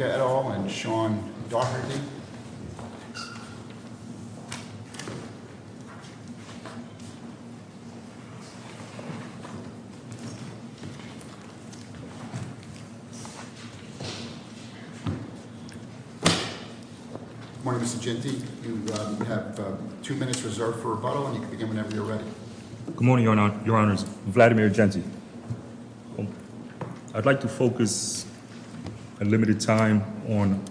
et al., and Sean Daugherty. Good morning, Mr. Jeanty. You have two minutes reserved for rebuttal, and you can begin whenever you're ready. Good morning, Your Honors. Vladimir Jeanty. I'd like to focus a limited time on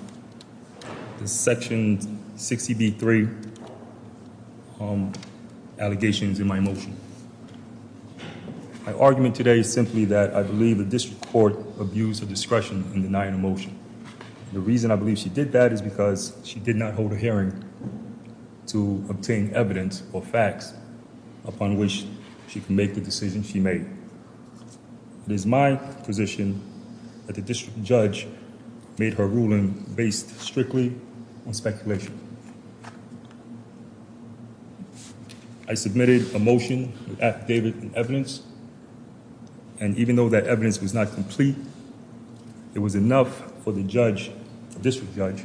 the Section 60B-3 allegations in my motion. My argument today is simply that I believe the district court abused her discretion in denying a motion. The reason I believe she did that is because she did not hold a hearing to obtain evidence or facts upon which she could make the decision she made. It is my position that the district judge made her ruling based strictly on speculation. I submitted a motion that gave it evidence, and even though that evidence was not complete, it was enough for the judge, the district judge,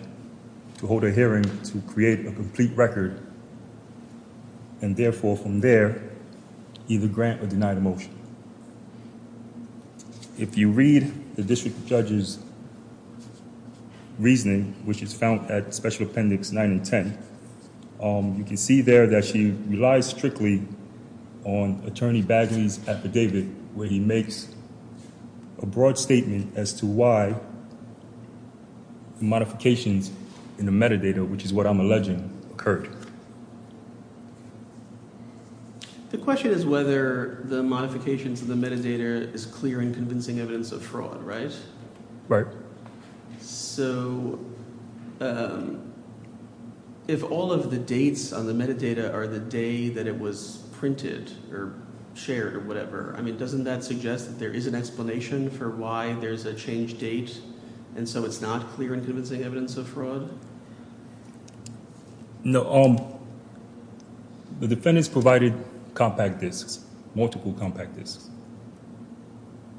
to hold a hearing to create a complete record and therefore, from there, either grant or deny the motion. If you read the district judge's reasoning, which is found at Special Appendix 9 and 10, you can see there that she relies strictly on Attorney Bagley's affidavit, where he makes a broad statement as to why the modifications in the metadata, which is what I'm alleging, occurred. The question is whether the modifications in the metadata is clear and convincing evidence of fraud, right? Right. So, if all of the dates on the metadata are the day that it was printed or shared or whatever, I mean, doesn't that suggest that there is an explanation for why there's a change date, and so it's not clear and convincing evidence of fraud? The defendants provided compact disks, multiple compact disks.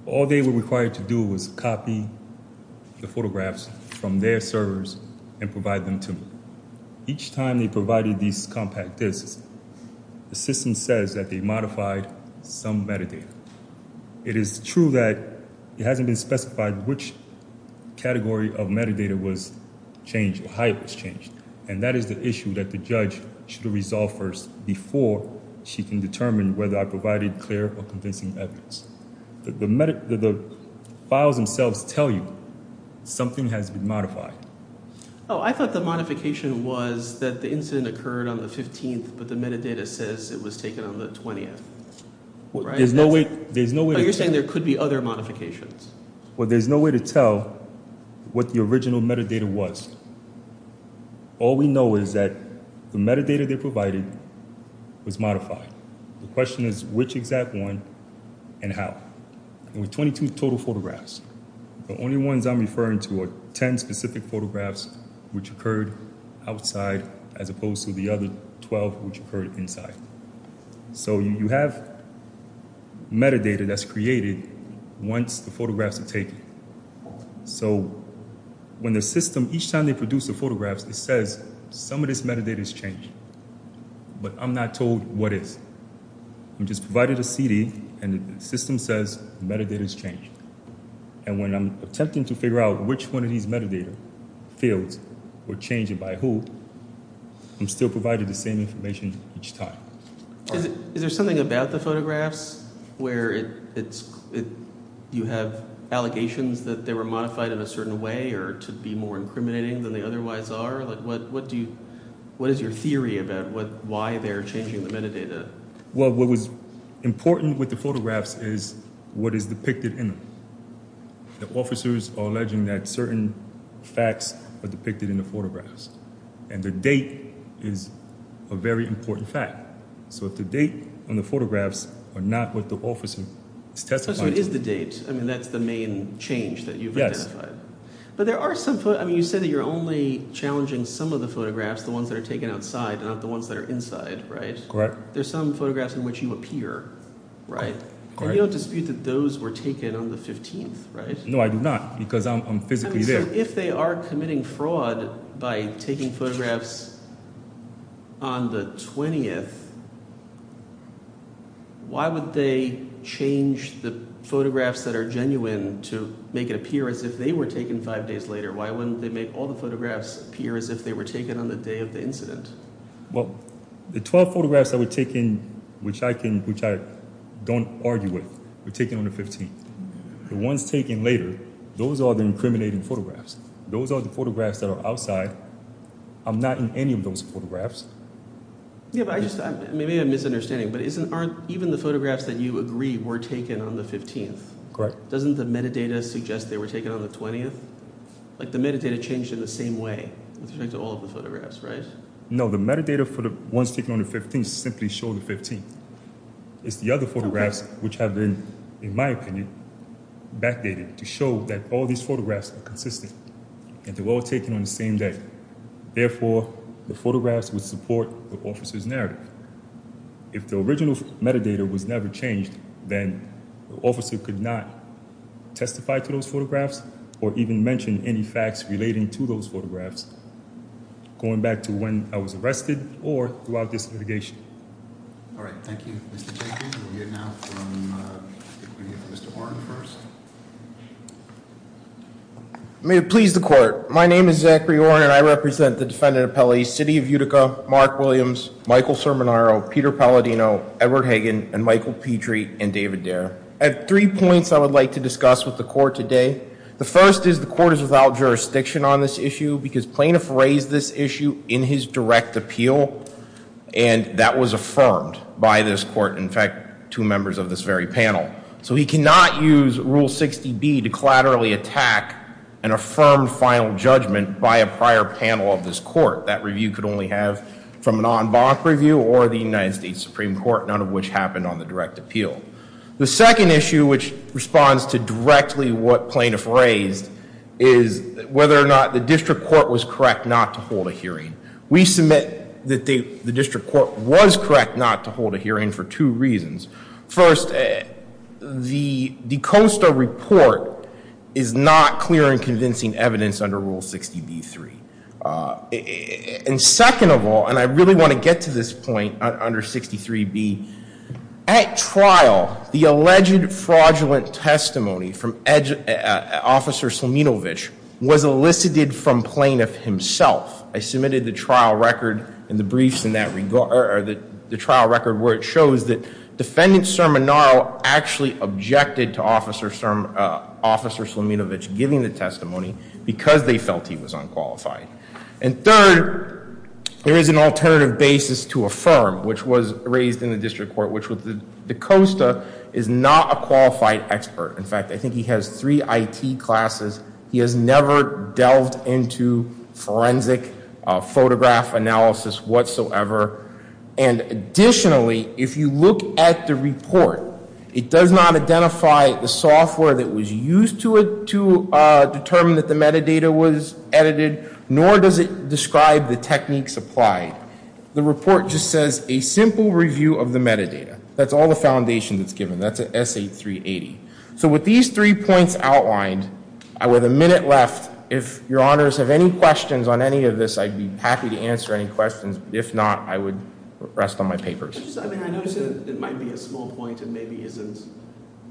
All they were required to do was copy the photographs from their servers and provide them to me. Each time they provided these compact disks, the system says that they modified some metadata. It is true that it hasn't been specified which category of metadata was changed or how it was changed, and that is the issue that the judge should resolve first before she can determine whether I provided clear or convincing evidence. The files themselves tell you something has been modified. Oh, I thought the modification was that the incident occurred on the 15th, but the metadata says it was taken on the 20th. You're saying there could be other modifications? Well, there's no way to tell what the original metadata was. All we know is that the metadata they provided was modified. The question is which exact one and how. There were 22 total photographs. The only ones I'm referring to are 10 specific photographs which occurred outside as opposed to the other 12 which occurred inside. So you have metadata that's created once the photographs are taken. So when the system, each time they produce the photographs, it says some of this metadata has changed, but I'm not told what is. I'm just provided a CD and the system says metadata has changed. And when I'm attempting to figure out which one of these metadata fields were changed and by who, I'm still provided the same information each time. Is there something about the photographs where you have allegations that they were modified in a certain way or to be more incriminating than they otherwise are? What is your theory about why they're changing the metadata? Well, what was important with the photographs is what is depicted in them. The officers are alleging that certain facts are depicted in the photographs. And the date is a very important point. So it is the date. I mean, that's the main change that you've identified. But there are some... I mean, you said that you're only challenging some of the photographs, the ones that are taken outside, not the ones that are inside, right? Correct. There's some photographs in which you appear, right? And you don't dispute that those were taken on the 15th, right? No, I do not because I'm physically there. So if they are committing fraud by taking photographs on the 20th, why would they change the photographs that are genuine to make it appear as if they were taken five days later? Why wouldn't they make all the photographs appear as if they were taken on the day of the incident? Well, the 12 photographs that were taken, which I don't argue with, were taken on the 15th. The ones taken later, those are the incriminating photographs. Those are the photographs that are outside. I'm not in any of those photographs. Yeah, but I just... Maybe I'm misunderstanding, but aren't even the photographs that you agree were taken on the 15th? Correct. Doesn't the metadata suggest they were taken on the 20th? Like the metadata changed in the same way with respect to all of the photographs, right? No, the metadata for the ones taken on the 15th simply show the 15th. It's the other photographs which have been, in my opinion, backdated to show that all these photographs are consistent and they're all taken on the same day. Therefore, the photographs would support the officer's narrative. If the original metadata was never changed, then the officer could not testify to those photographs or even mention any facts relating to those photographs, going back to when I was arrested or throughout this litigation. All right. Thank you, Mr. Jenkins. We'll hear now from Mr. Orn first. May it please the Court. My name is Zachary Orn and I represent the defendant appellees, City of Utica, Mark Williams, Michael Cerminaro, Peter Palladino, Edward Hagen, and Michael Petrie and David Dare. I have three points I would like to discuss with the Court today. The first is the Court is without jurisdiction on this issue because plaintiff raised this issue in his direct appeal and that was affirmed by this Court. In fact, two members of this very panel. So he cannot use Rule 60B to collaterally attack an affirmed final judgment by a prior panel of this Court. That review could only have from an en banc review or the United States Supreme Court, none of which happened on the direct appeal. The second issue which responds to directly what plaintiff raised is whether or not the district court was correct not to hold a hearing. We submit that the district court was correct not to hold a hearing for two reasons. First, the D'Costa report is not clear and convincing evidence under Rule 60B-3. And second of all, and I really want to get to this point under 63B, at trial the alleged fraudulent testimony from Officer Slaminovich was elicited from plaintiff himself. I submitted the trial record and the briefs in that regard, or the trial record where it shows that Defendant Cerminaro actually objected to from Officer Slaminovich giving the testimony because they felt he was unqualified. And third, there is an alternative basis to affirm, which was raised in the district court, which was that D'Costa is not a qualified expert. In fact, I think he has three IT classes. He has never delved into forensic photograph analysis whatsoever. And additionally, if you look at the report, it does not identify the software that was used to determine that the metadata was edited, nor does it describe the techniques applied. The report just says a simple review of the metadata. That's all the foundation that's given. That's at S8380. So with these three points outlined, with a minute left, if your honors have any questions on any of this, I'd be happy to answer any questions. If not, I would rest on my papers. I noticed that it might be a small point and maybe isn't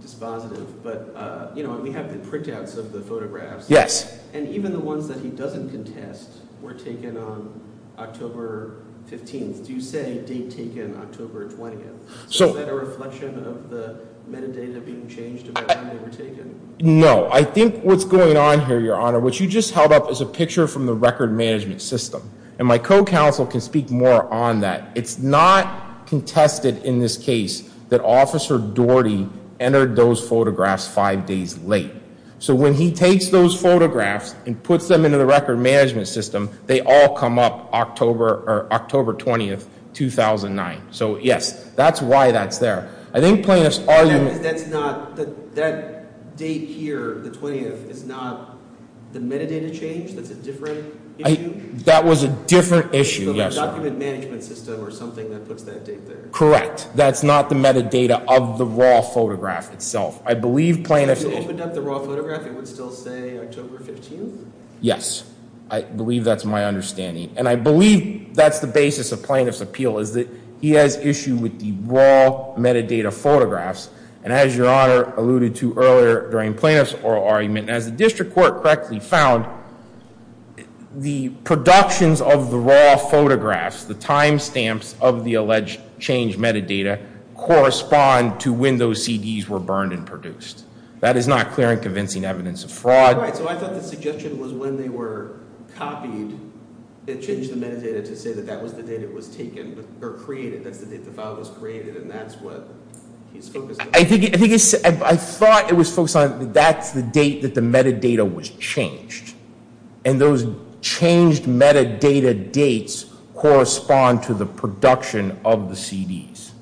dispositive, but we have the printouts of the photographs. Yes. And even the ones that he doesn't contest were taken on October 15th. Do you say date taken October 20th? So is that a reflection of the metadata being changed about when they were taken? No. I think what's going on here, Your Honor, what you just held up is a picture from the record management system. And my co-counsel can speak more on that. It's not contested in this case that Officer Doherty entered those photographs five days late. So when he takes those photographs and puts them into the record management system, they all come up October 20th, 2009. So yes, that's why that's there. I think plaintiff's argument... That date here, the 20th, is not the metadata change that's a different issue? That was a different issue, yes, Your Honor. The document management system or something that puts that date there. Correct. That's not the metadata of the raw photograph itself. I believe plaintiff... If you opened up the raw photograph, it would still say October 15th? Yes. I believe that's my understanding. And I believe that's the basis of plaintiff's appeal is that he has issue with the raw metadata photographs. And as Your Honor alluded to earlier during plaintiff's oral argument, as the district court correctly found, the productions of the raw photographs, the time stamps of the alleged change metadata correspond to when those CDs were burned and produced. That is not clear and convincing evidence of fraud. Right. So I thought the suggestion was when they were copied they changed the metadata to say that that was the date it was taken or created. That's the date the file was created and that's what he's focused on. I thought it was focused on that's the date that the metadata was changed. And those changed metadata dates correspond to the production of the CDs.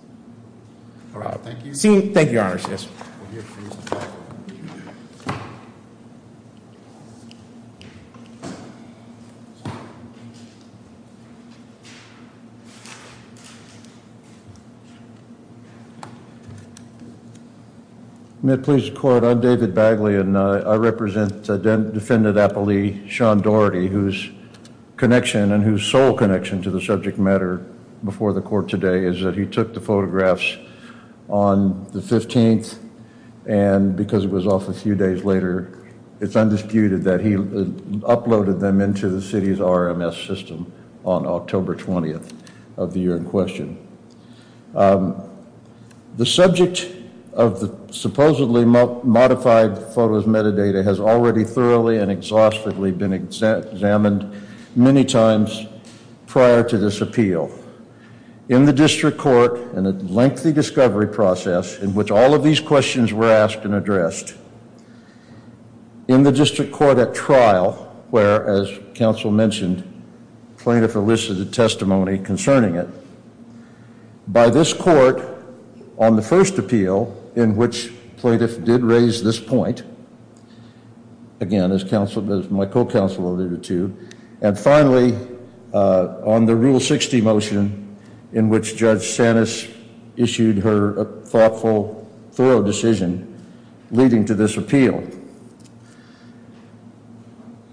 Thank you. Thank you, Your Honor. May it please the court, I'm David Bagley and I represent Defendant Appelee Sean Doherty whose connection and whose sole connection to the subject matter before the court today is that he took the photographs on the 15th and because it was off a few days prior to this RMS system on October 20th of the year in question. The subject of the supposedly modified photos metadata has already thoroughly and exhaustively been examined many times prior to this appeal. In the district court in a lengthy discovery process in which all of these questions were asked and addressed in the district court at trial where, as counsel mentioned, plaintiff elicited testimony concerning it. By this court on the first appeal in which plaintiff did raise this point, again as my co-counsel alluded to, and finally on the Rule 60 motion in which Judge Sanis issued her thoughtful, thorough decision leading to this appeal.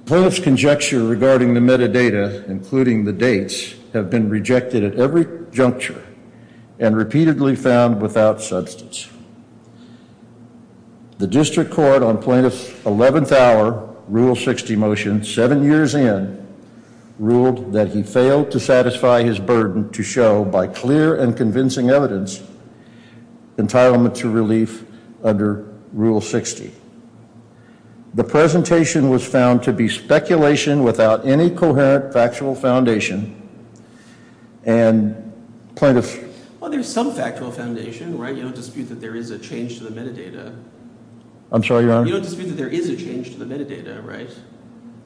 Plaintiff's conjecture regarding the metadata, including the dates, have been rejected at every juncture and repeatedly found without substance. The district court on plaintiff's 11th hour Rule 60 motion seven years in ruled that he failed to satisfy his burden to show by clear and convincing evidence entitlement to relief under Rule 60. The presentation was found to be speculation without any coherent factual foundation and plaintiff... Well, there's some factual foundation, right? You don't dispute that there is a change to the metadata. I'm sorry, Your Honor? You don't dispute that there is a change to the metadata, right?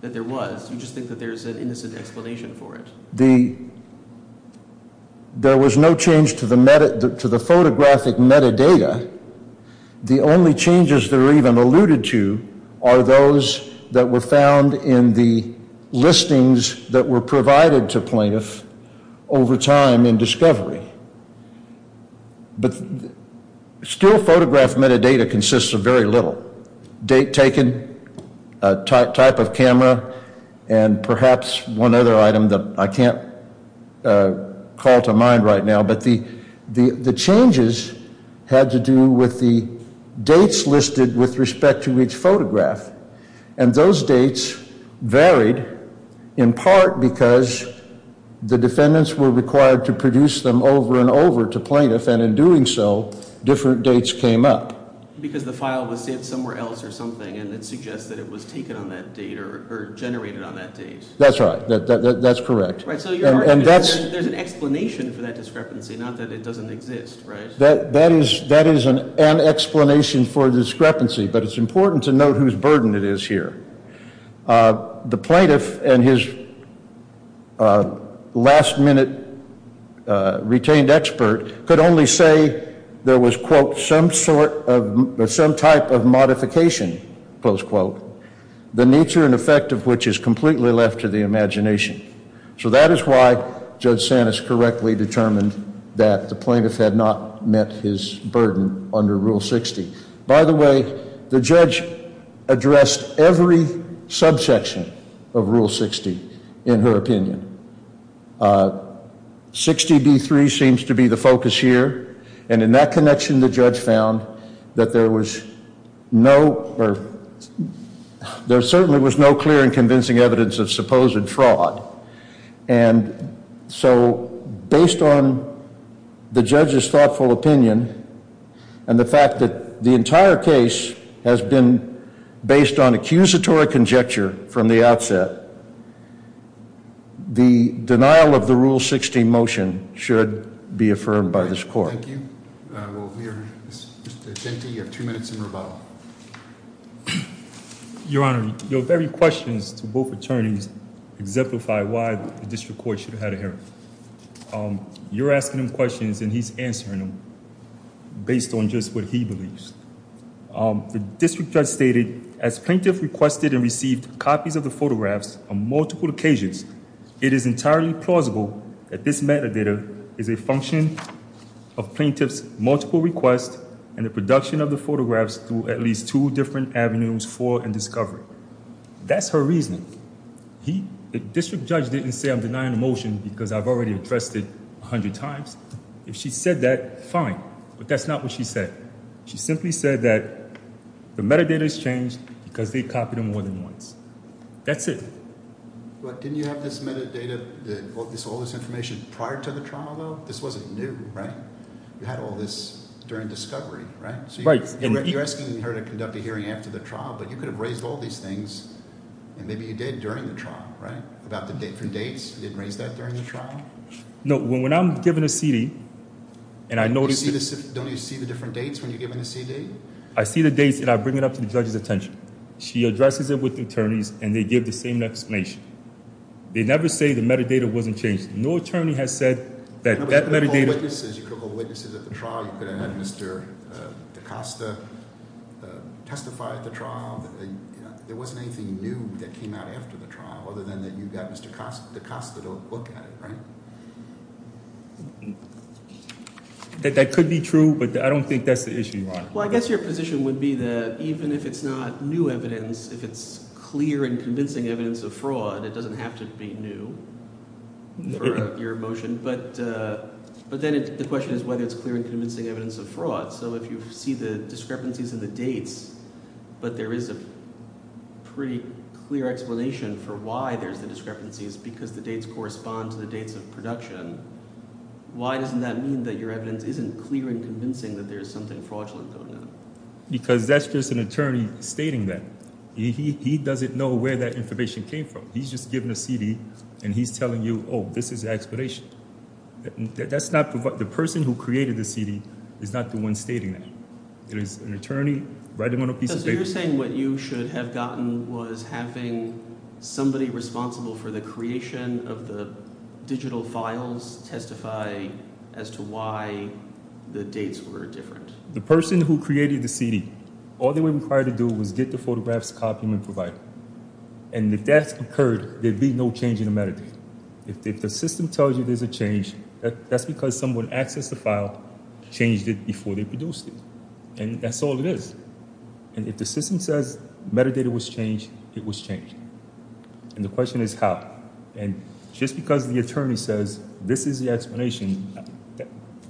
That there was. You just think that there's an innocent explanation for it. There was no change to the photographic metadata. The only changes that are even alluded to are those that were found in the listings that were provided to plaintiff over time in discovery. But still photograph metadata consists of very little. Date taken, type of camera, and perhaps one other item that I can't call to mind right now, but the changes had to do with the dates listed with respect to each photograph. And those dates varied in part because the defendants were required to produce them over and over to plaintiff, and in doing so, different dates came up. Because the file was saved somewhere else or something and it suggests that it was taken on that date or generated on that date. That's right. That's correct. And that's... There's an explanation for that discrepancy, not that it doesn't exist, right? That is an explanation for the discrepancy, but it's important to note whose burden it is here. The plaintiff and his last-minute retained expert could only say there was, quote, some sort of, some type of modification, close quote, the nature and effect of which is completely left to the imagination. So that is why Judge Sanis correctly determined that the plaintiff had not met his burden under Rule 60. By the way, the judge addressed every subsection of Rule 60 in her opinion. 60B3 seems to be the focus here, and in that connection, the judge found that there was no, or there certainly was no clear and convincing evidence of supposed fraud. And so based on the judge's thoughtful opinion and the fact that the entire case has been based on accusatory conjecture from the outset, the denial of the Rule 60 motion should be affirmed by this court. Thank you. We are just at 50. You have two minutes in rebuttal. Your Honor, your very questions to both attorneys exemplify why the district court should have had a hearing. You're asking him questions and he's answering them based on just what he believes. The district judge stated, as plaintiff requested and received copies of the photographs on multiple occasions, it is entirely plausible that this metadata is a function of plaintiff's multiple requests and the production of the photographs through at least two different avenues for and discovery. That's her reasoning. The district judge didn't say I'm denying the motion because I've already addressed it a hundred times. If she said that, fine, but that's not what she said. She simply said that the metadata has changed because they copied them more than once. That's it. But didn't you have this metadata all this information prior to the trial, though? This wasn't new, right? You had all this during discovery, right? So you're asking her to conduct a hearing after the trial, but you could have raised all these things and maybe you did during the trial, right? About the different dates, you didn't raise that during the trial? No, when I'm given a CD and I notice... Don't you see the different dates when you're given the CD? I see the dates and I bring it up to the judge's attention. She addresses it with attorneys and they give the same explanation. They never say the metadata wasn't changed. No attorney has said that that metadata... You could have called witnesses at the trial. You could have had Mr. DaCosta testify at the trial. There wasn't anything new that came out after the trial other than that you got Mr. DaCosta to look at it, right? That could be true, but I don't think that's the issue, Your Honor. Well, I guess your position would be that even if it's not new evidence, if it's clear and convincing evidence of fraud, it doesn't have to be new for your motion. But then the question is whether it's clear and convincing evidence of fraud. So if you see the discrepancies in the dates, but there is a pretty clear explanation for why there's the discrepancies because the dates correspond to the dates of production, why doesn't that mean that your evidence isn't clear and convincing that there's something fraudulent going on? Because that's just an attorney stating that. He doesn't know where that information came from. He's just given a CD and he's telling you, oh, this is the explanation. The person who created the CD is not the one stating that. It is an attorney writing on a piece of paper. So you're saying what you should have gotten was having somebody responsible for the creation of the digital files testify as to why the dates were different. The person who created the CD, all they were required to do was get the photographs, copy them, and provide them. And if that's occurred, there'd be no change in the metadata. If the system tells you there's a change, that's because someone accessed the file, changed it before they produced it. And that's all it is. And if the system says metadata was changed, it was changed. And the question is how. And just because the attorney says this is the explanation,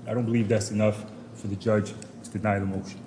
I don't believe that's enough for the judge to deny the motion.